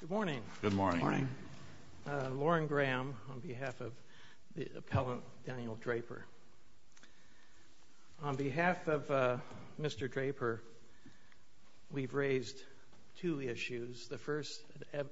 Good morning. Good morning. Lauren Graham on behalf of the appellant Daniel Draper. On behalf of Mr. Draper, we've raised two issues. The first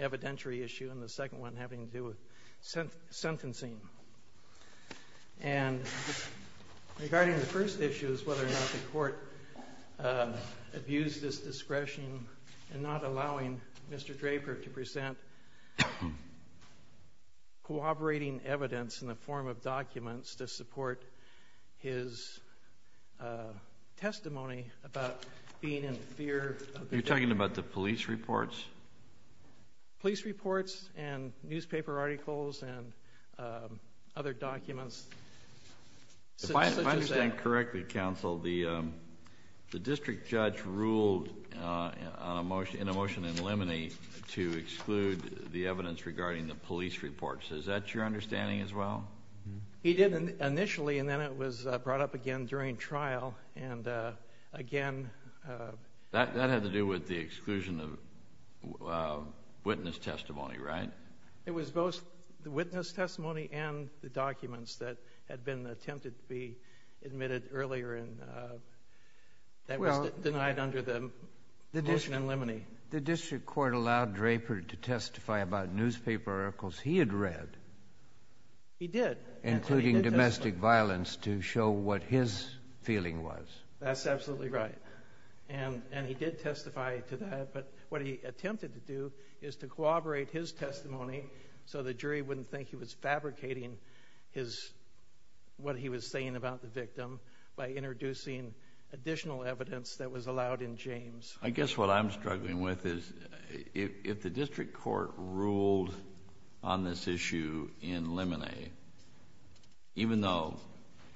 evidentiary issue and the second one having to do with sentencing. And regarding the first issue is whether or not the court abused his discretion in not allowing Mr. Draper to present corroborating evidence in the form of documents to support his testimony about being in fear. You're talking about the police reports? Police reports. That's right, counsel. The district judge ruled in a motion in limine to exclude the evidence regarding the police reports. Is that your understanding as well? He did initially and then it was brought up again during trial. And again... That had to do with the exclusion of witness testimony, right? It was both the witness testimony and the testimony earlier that was denied under the motion in limine. The district court allowed Draper to testify about newspaper articles he had read. He did. Including domestic violence to show what his feeling was. That's absolutely right. And he did testify to that. But what he attempted to do is to corroborate his testimony so the jury wouldn't think he was fabricating his... what he was saying about the victim by introducing additional evidence that was allowed in James. I guess what I'm struggling with is if the district court ruled on this issue in limine, even though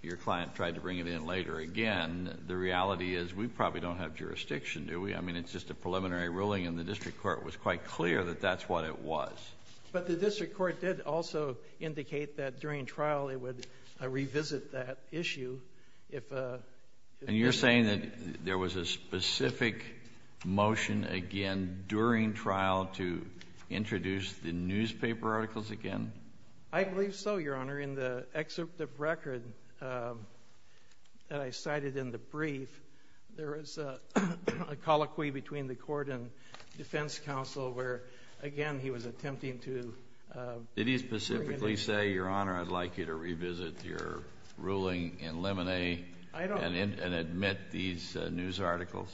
your client tried to bring it in later again, the reality is we probably don't have jurisdiction, do we? I mean, it's just a preliminary ruling and the district court was quite clear that that's what it was. But the district court did also indicate that during trial it would revisit that issue if... And you're saying that there was a specific motion again during trial to introduce the newspaper articles again? I believe so, Your Honor. In the excerpt of record that I cited in the brief, there was a colloquy between the court and defense counsel where, again, he was attempting to... Did he specifically say, Your Honor, I'd like you to revisit your ruling in limine and admit these news articles?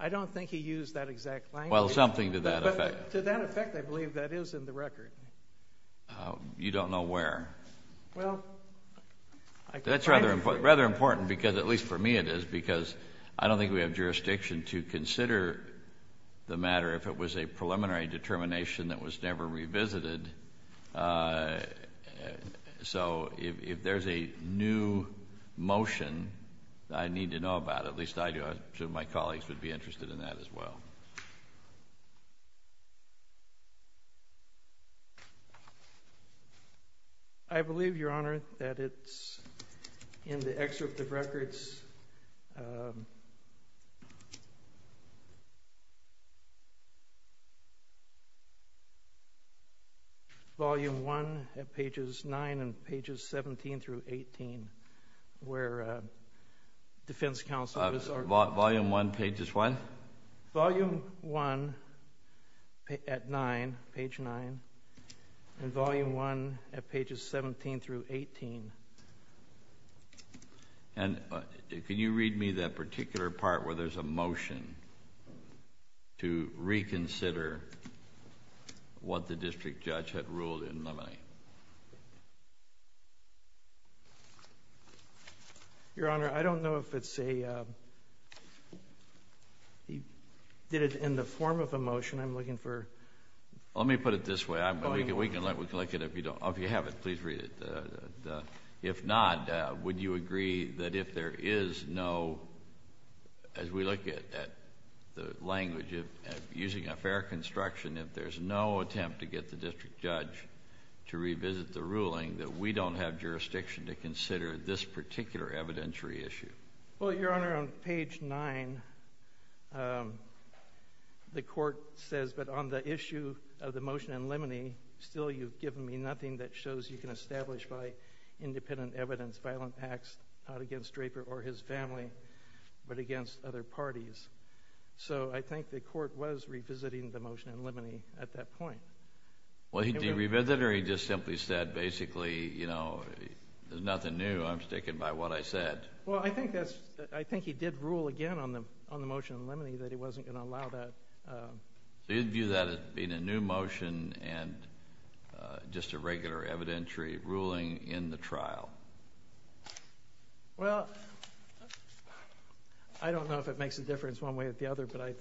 I don't think he used that exact language. Well, something to that effect. But to that effect, I believe that is in the record. You don't know where? Well, I could try to... That's rather important because, at least for me it is, because I don't think we have jurisdiction to consider the matter if it was a preliminary determination that was never revisited. So if there's a new motion I need to know about, at least I do, I'm sure my colleagues would be interested in that as well. I believe, Your Honor, that it's in the excerpt of records, Volume 1, at pages 9 and pages 17 through 18, where defense counsel has argued... Volume 1, pages 1? Volume 1 at 9, page 9, and Volume 1 at pages 17 through 18. And can you read me that particular part where there's a motion to reconsider what the district judge has said? Yes. Okay. Your Honor, I don't know if it's a... He did it in the form of a motion. I'm looking for... Let me put it this way. We can look at it. If you don't... If you have it, please read it. If not, would you agree that if there is no, as we look at the language of using a fair reconstruction, if there's no attempt to get the district judge to revisit the ruling, that we don't have jurisdiction to consider this particular evidentiary issue? Well, Your Honor, on page 9, the court says, but on the issue of the motion in limine, still you've given me nothing that shows you can establish by independent evidence violent acts, not against Draper or his family, but against other parties. So I think the court was revisiting the motion in limine at that point. Well, did he revisit it or he just simply said, basically, you know, there's nothing new, I'm sticking by what I said? Well, I think he did rule again on the motion in limine that he wasn't going to allow that... So you'd view that as being a new motion and just a regular evidentiary ruling in the trial? Well, I don't know if it makes a difference one way or the other, but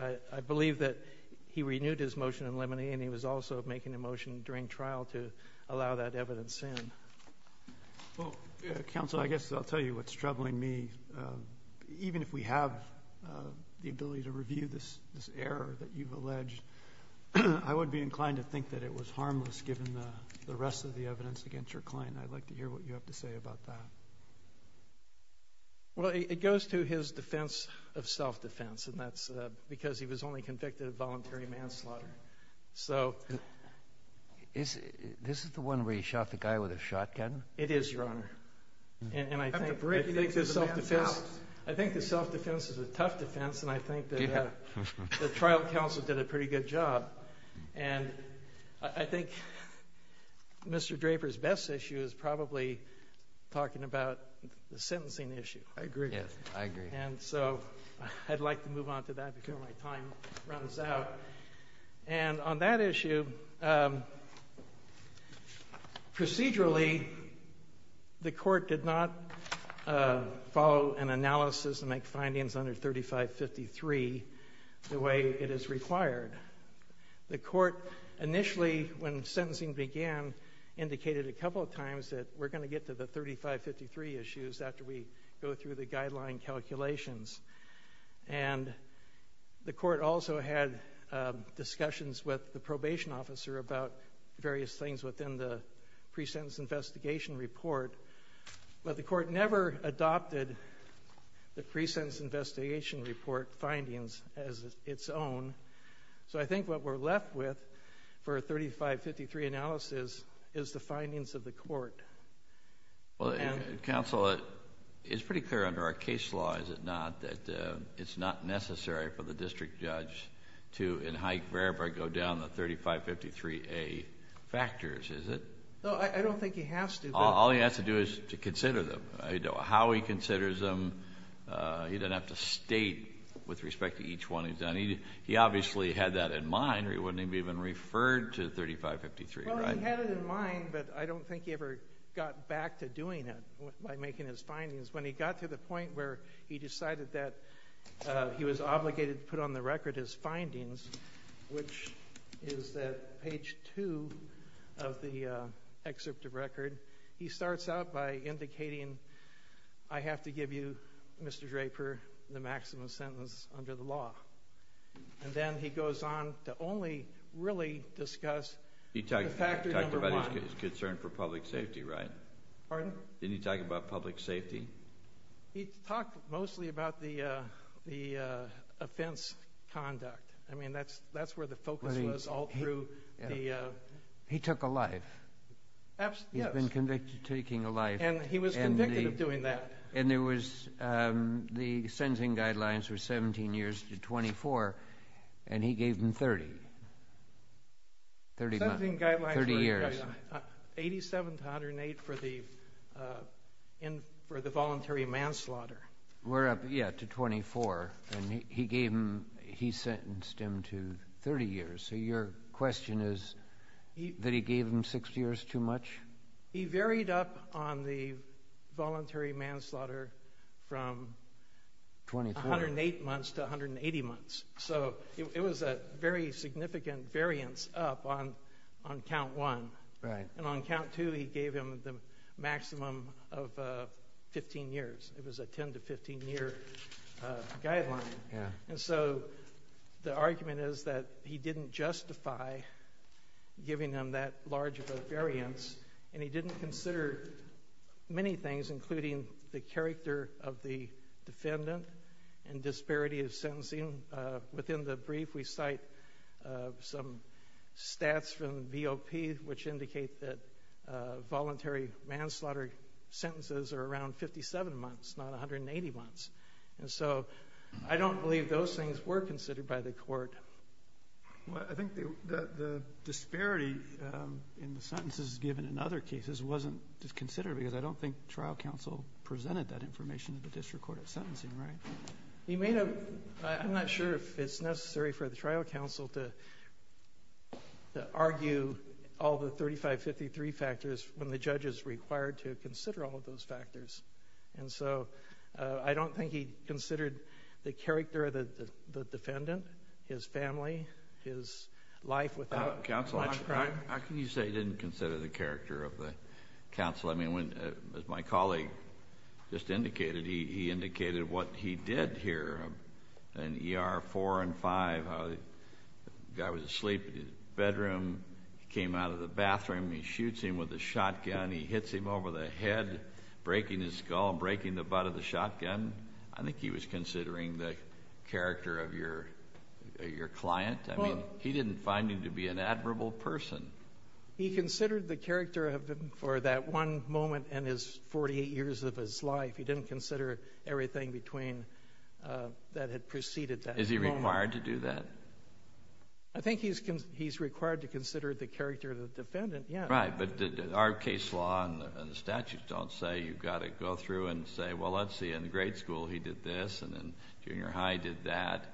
I believe that he renewed his motion in limine and he was also making a motion during trial to allow that evidence in. Counsel, I guess I'll tell you what's troubling me. Even if we have the ability to review this error that you've alleged, I would be inclined to think that it was harmless given the rest of the evidence against your client. And I'd like to hear what you have to say about that. Well, it goes to his defense of self-defense and that's because he was only convicted of voluntary manslaughter. So... This is the one where he shot the guy with a shotgun? It is, Your Honor. And I think... After breaking into the man's house. I think the self-defense is a tough defense and I think that the trial counsel did a pretty good job. And I think Mr. Draper's best issue is probably talking about the sentencing issue. I agree. Yes, I agree. And so I'd like to move on to that before my time runs out. And on that issue, procedurally, the Court did not follow an analysis and make findings under 3553 the way it is required. The Court initially, when sentencing began, indicated a couple of times that we're going to get to the 3553 issues after we go through the guideline calculations. And the Court also had discussions with the probation officer about various things within the pre-sentence investigation report. But the Court never adopted the pre-sentence investigation report findings as its own. So I think what we're left with for a 3553 analysis is the findings of the Court. Well, counsel, it's pretty clear under our case law, is it not, that it's not necessary for the district judge to, in high verba, go down the 3553A factors, is it? No, I don't think he has to. All he has to do is to consider them. How he considers them, he doesn't have to state with respect to each one he's done. He obviously had that in mind, or he wouldn't have even referred to 3553, right? Well, he had it in mind, but I don't think he ever got back to doing it by making his findings. When he got to the point where he decided that he was obligated to put on the record his findings, which is that page 2 of the excerpt of record, he starts out by indicating, I have to give you, Mr. Draper, the maximum sentence under the law. And then he goes on to only really discuss the factor number 1. He talked about his concern for public safety, right? Pardon? Didn't he talk about public safety? He talked mostly about the offense conduct. I mean, that's where the focus was all through the... He took a life. Yes. He's been convicted of taking a life. And he was convicted of doing that. And there was, the sentencing guidelines were 17 years to 24, and he gave them 30. Thirty months. Sentencing guidelines were... Thirty years. 87 to 108 for the voluntary manslaughter. We're up, yeah, to 24, and he gave him, he sentenced him to 30 years. So your question is that he gave him 60 years too much? He varied up on the voluntary manslaughter from 108 months to 180 months. So it was a very significant variance up on count 1. Right. And on count 2, he gave him the maximum of 15 years. It was a 10 to 15 year guideline. And so the argument is that he didn't justify giving him that large of a variance, and he didn't consider many things, including the character of the defendant and disparity of sentencing. Within the brief, we cite some stats from VOP, which indicate that voluntary manslaughter sentences are around 57 months, not 180 months. And so I don't believe those things were considered by the court. Well, I think the disparity in the sentences given in other cases wasn't considered, because I don't think trial counsel presented that information to the District Court of Sentencing, right? He may have. I'm not sure if it's necessary for the trial counsel to argue all the 3553 factors when the judge is required to consider all of those factors. And so I don't think he considered the character of the defendant, his family, his life without much crime. Counsel, how can you say he didn't consider the character of the counsel? I mean, as my colleague just indicated, he indicated what he did here in ER 4 and 5. The guy was asleep in his bedroom, came out of the bathroom, he shoots him with a shotgun, he hits him over the head, breaking his skull, breaking the butt of the shotgun. I think he was considering the character of your client. I mean, he didn't find him to be an admirable person. He considered the character of him for that one moment in his 48 years of his life. He didn't consider everything that had preceded that moment. Is he required to do that? I think he's required to consider the character of the defendant, yes. Right. But our case law and the statutes don't say you've got to go through and say, well, let's see, in grade school he did this, and then junior high he did that.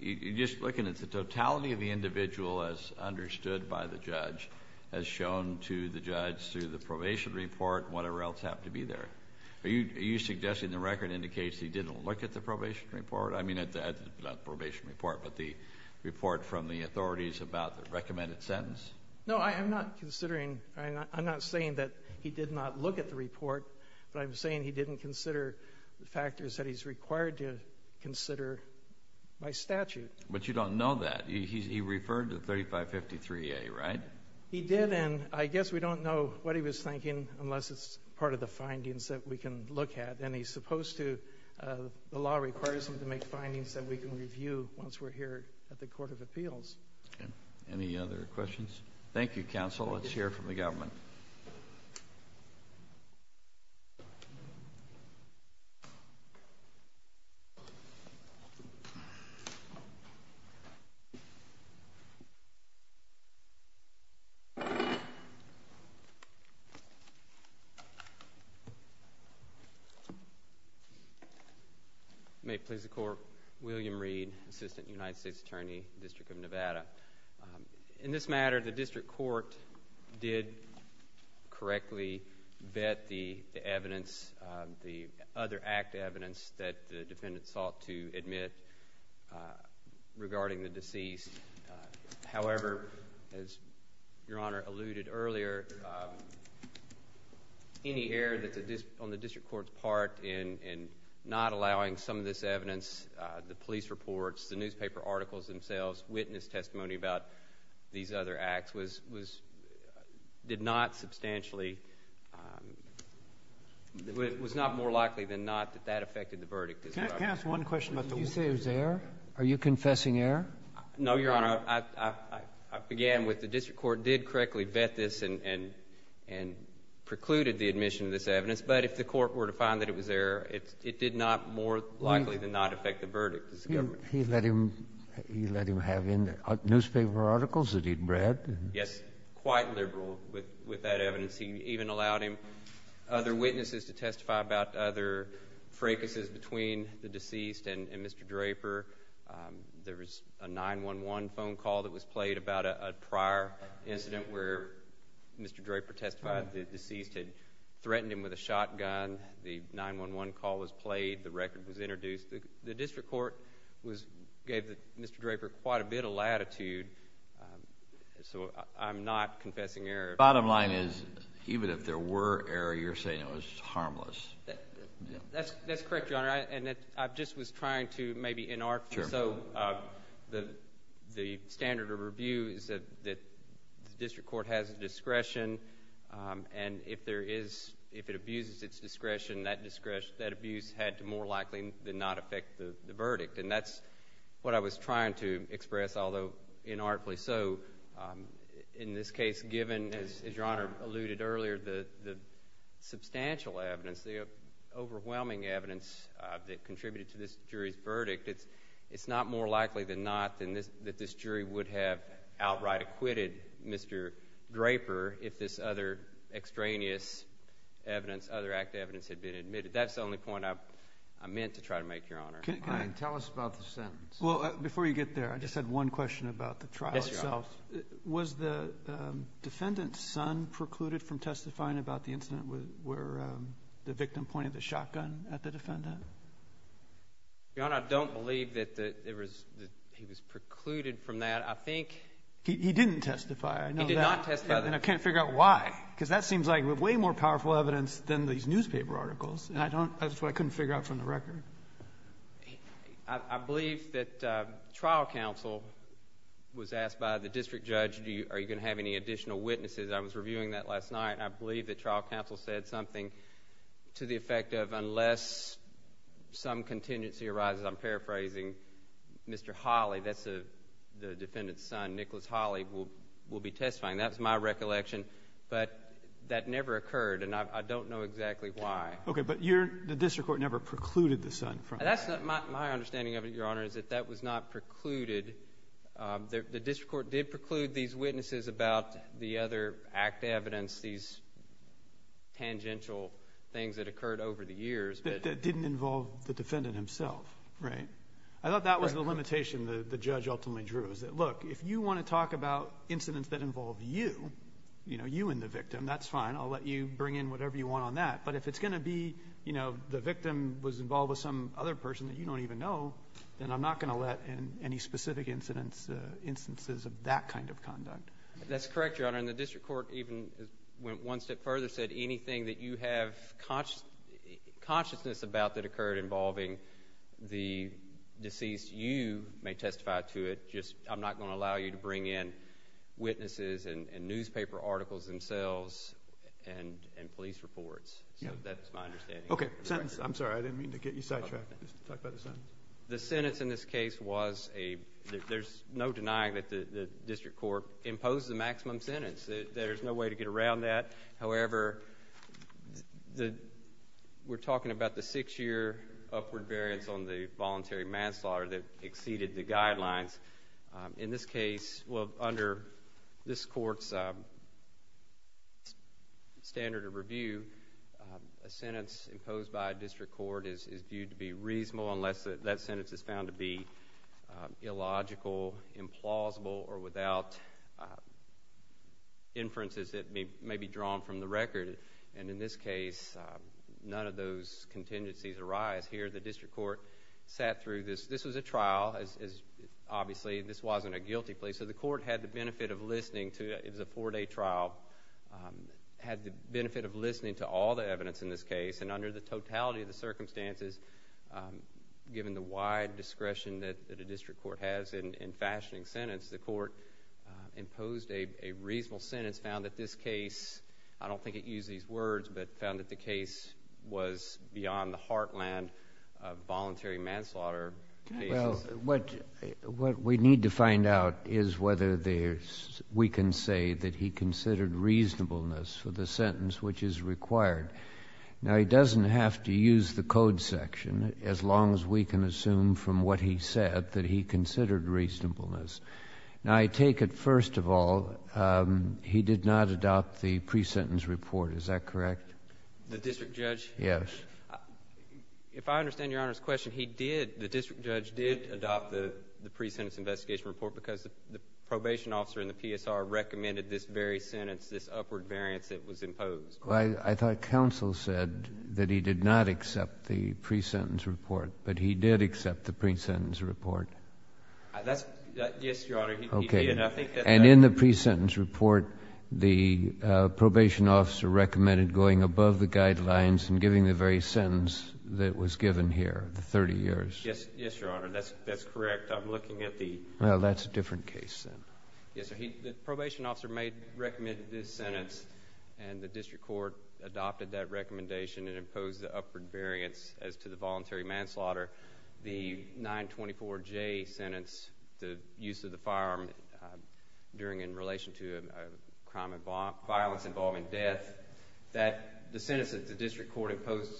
You're just looking at the totality of the individual as understood by the judge, as shown to the judge through the probation report, whatever else happened to be there. Are you suggesting the record indicates he didn't look at the probation report? I mean, not the probation report, but the report from the authorities about the recommended sentence? No, I'm not considering. I'm not saying that he did not look at the report, but I'm saying he didn't consider the factors that he's required to consider by statute. But you don't know that. He referred to 3553A, right? He did, and I guess we don't know what he was thinking unless it's part of the findings that we can look at. And he's supposed to, the law requires him to make findings that we can review once we're here at the Court of Appeals. Thank you, counsel. Let's hear from the government. May it please the Court, William Reed, Assistant United States Attorney, District of Nevada. In this matter, the district court did correctly vet the evidence, the other act evidence that the defendant sought to admit regarding the deceased. However, as Your Honor alluded earlier, any error on the district court's part in not allowing some of this evidence, the police reports, the newspaper articles themselves, witness testimony about these other acts, was, did not substantially, it was not more likely than not that that affected the verdict. Can I ask one question about the word error? Did you say it was error? Are you confessing error? No, Your Honor. I began with the district court did correctly vet this and precluded the admission of this evidence, but if the court were to find that it was error, it did not more likely than not affect the verdict. He let him have in the newspaper articles that he'd read? Yes, quite liberal with that evidence. He even allowed him other witnesses to testify about other fracases between the deceased and Mr. Draper. There was a 911 phone call that was played about a prior incident where Mr. Draper testified the deceased had threatened him with a shotgun. The 911 call was played. The record was introduced. The district court gave Mr. Draper quite a bit of latitude, so I'm not confessing error. Bottom line is, even if there were error, you're saying it was harmless. That's correct, Your Honor, and I just was trying to maybe in our, so the standard of review is that the district court has a discretion, and if there is, if it abuses its discretion, it does not affect the verdict, and that's what I was trying to express, although inarticulately so. In this case, given, as Your Honor alluded earlier, the substantial evidence, the overwhelming evidence that contributed to this jury's verdict, it's not more likely than not that this jury would have outright acquitted Mr. Draper if this other extraneous evidence, other active evidence had been admitted. That's the only point I meant to try to make, Your Honor. Can you tell us about the sentence? Well, before you get there, I just had one question about the trial itself. Was the defendant's son precluded from testifying about the incident where the victim pointed the shotgun at the defendant? Your Honor, I don't believe that he was precluded from that. I think... He didn't testify. He did not testify. And I can't figure out why, because that seems like way more powerful evidence than these I don't, that's why I couldn't figure out from the record. I believe that trial counsel was asked by the district judge, are you going to have any additional witnesses? I was reviewing that last night, and I believe that trial counsel said something to the effect of, unless some contingency arises, I'm paraphrasing, Mr. Holley, that's the defendant's son, Nicholas Holley, will be testifying. That was my recollection, but that never occurred, and I don't know exactly why. Okay, but the district court never precluded the son from that. That's not my understanding of it, Your Honor, is that that was not precluded. The district court did preclude these witnesses about the other act evidence, these tangential things that occurred over the years. That didn't involve the defendant himself, right? I thought that was the limitation the judge ultimately drew, is that, look, if you want to talk about incidents that involve you, you know, you and the victim, that's fine. I'll let you bring in whatever you want on that. But if it's going to be, you know, the victim was involved with some other person that you don't even know, then I'm not going to let any specific incidents, instances of that kind of conduct. That's correct, Your Honor, and the district court even went one step further, said anything that you have consciousness about that occurred involving the deceased, you may testify to it, just I'm not going to allow you to bring in witnesses and newspaper articles themselves and police reports. That's my understanding. OK, sentence. I'm sorry, I didn't mean to get you sidetracked, just to talk about the sentence. The sentence in this case was a, there's no denying that the district court imposed the maximum sentence. There's no way to get around that. However, we're talking about the six year upward variance on the voluntary manslaughter that exceeded the guidelines. In this case, well, under this court's standard of review, a sentence imposed by a district court is viewed to be reasonable unless that sentence is found to be illogical, implausible, or without inferences that may be drawn from the record. And in this case, none of those contingencies arise here. The district court sat through this. This was a trial, obviously this wasn't a guilty plea, so the court had the benefit of listening to, it was a four day trial, had the benefit of listening to all the evidence in this case. And under the totality of the circumstances, given the wide discretion that a district court has in fashioning sentence, the court imposed a reasonable sentence, found that this case, I don't think it used these words, but found that the case was beyond the limits of the statute. Well, what we need to find out is whether we can say that he considered reasonableness for the sentence which is required. Now, he doesn't have to use the code section as long as we can assume from what he said that he considered reasonableness. Now, I take it, first of all, he did not adopt the pre-sentence report. Is that correct? The district judge? Yes. If I understand Your Honor's question, he did, the district judge did adopt the pre-sentence investigation report because the probation officer in the PSR recommended this very sentence, this upward variance that was imposed. Well, I thought counsel said that he did not accept the pre-sentence report, but he did accept the pre-sentence report. That's, yes, Your Honor, he did. Okay. And in the pre-sentence report, the probation officer recommended going above the guidelines and giving the very sentence that was given here, the 30 years. Yes, yes, Your Honor. That's correct. I'm looking at the... Well, that's a different case then. Yes, sir. He, the probation officer made, recommended this sentence, and the district court adopted that recommendation and imposed the upward variance as to the voluntary manslaughter. The 924J sentence, the use of the firearm during, in relation to a crime of violence involving death, that, the sentence that the district court imposed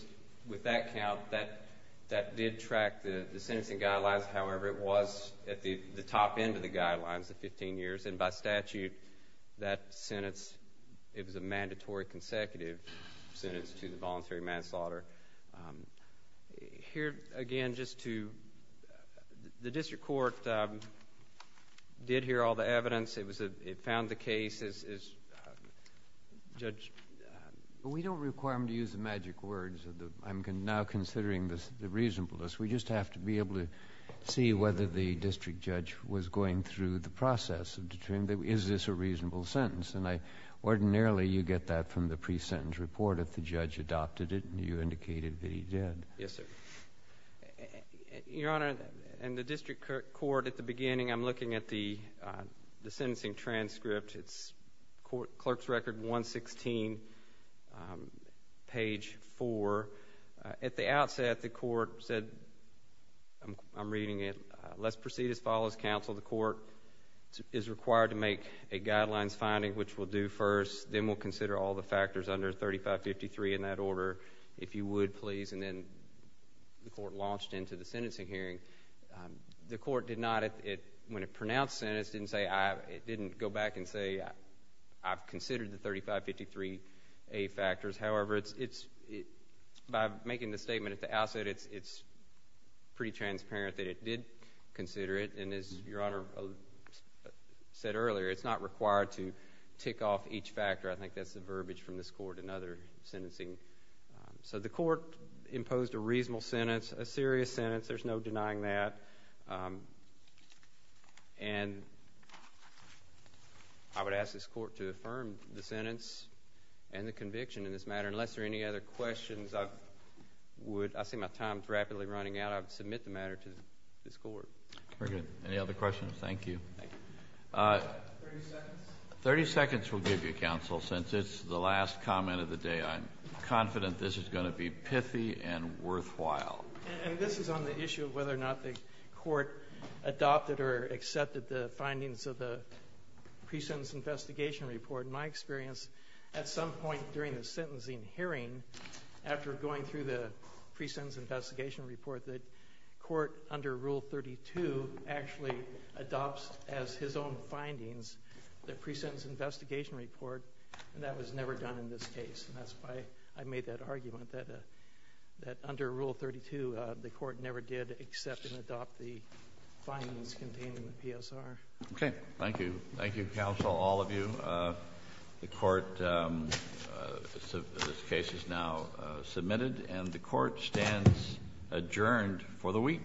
with that count, that did track the sentencing guidelines, however, it was at the top end of the guidelines, the 15 years, and by statute, that sentence, it was a mandatory consecutive sentence to the voluntary manslaughter. Here again, just to, the district court did hear all the evidence, it was a, it found the case as, as, Judge... We don't require them to use the magic words of the, I'm now considering the reasonableness. We just have to be able to see whether the district judge was going through the process of determining that, is this a reasonable sentence? And I, ordinarily, you get that from the pre-sentence report if the judge adopted it and you indicated that he did. Yes, sir. Your Honor, in the district court, at the beginning, I'm looking at the, the sentencing transcript. It's clerk's record 116, page 4. At the outset, the court said, I'm reading it, let's proceed as follows, counsel, the court is required to make a guidelines finding, which we'll do first, then we'll consider all the factors under 3553 in that order, if you would, please, and then the court launched into the sentencing hearing. The court did not, when it pronounced sentence, didn't say, it didn't go back and say, I've considered the 3553A factors. However, it's, by making the statement at the outset, it's pretty transparent that it did consider it, and as Your Honor said earlier, it's not required to tick off each factor. I think that's the verbiage from this court and other sentencing. So, the court imposed a reasonable sentence, a serious sentence, there's no denying that, and I would ask this court to affirm the sentence and the conviction in this matter. Unless there are any other questions, I would, I see my time's rapidly running out, I would submit the matter to this court. Very good. Any other questions? Thank you. 30 seconds. 30 seconds we'll give you, counsel, since it's the last comment of the day. I'm confident this is going to be pithy and worthwhile. And this is on the issue of whether or not the court adopted or accepted the findings of the pre-sentence investigation report. In my experience, at some point during the sentencing hearing, after going through the pre-sentence investigation report, the court, under Rule 32, actually adopts as his own findings, the pre-sentence investigation report, and that was never done in this case. And that's why I made that argument, that under Rule 32, the court never did accept and adopt the findings contained in the PSR. Okay. Thank you. Thank you, counsel, all of you. The court, this case is now submitted, and the court stands adjourned for the week. Thank you.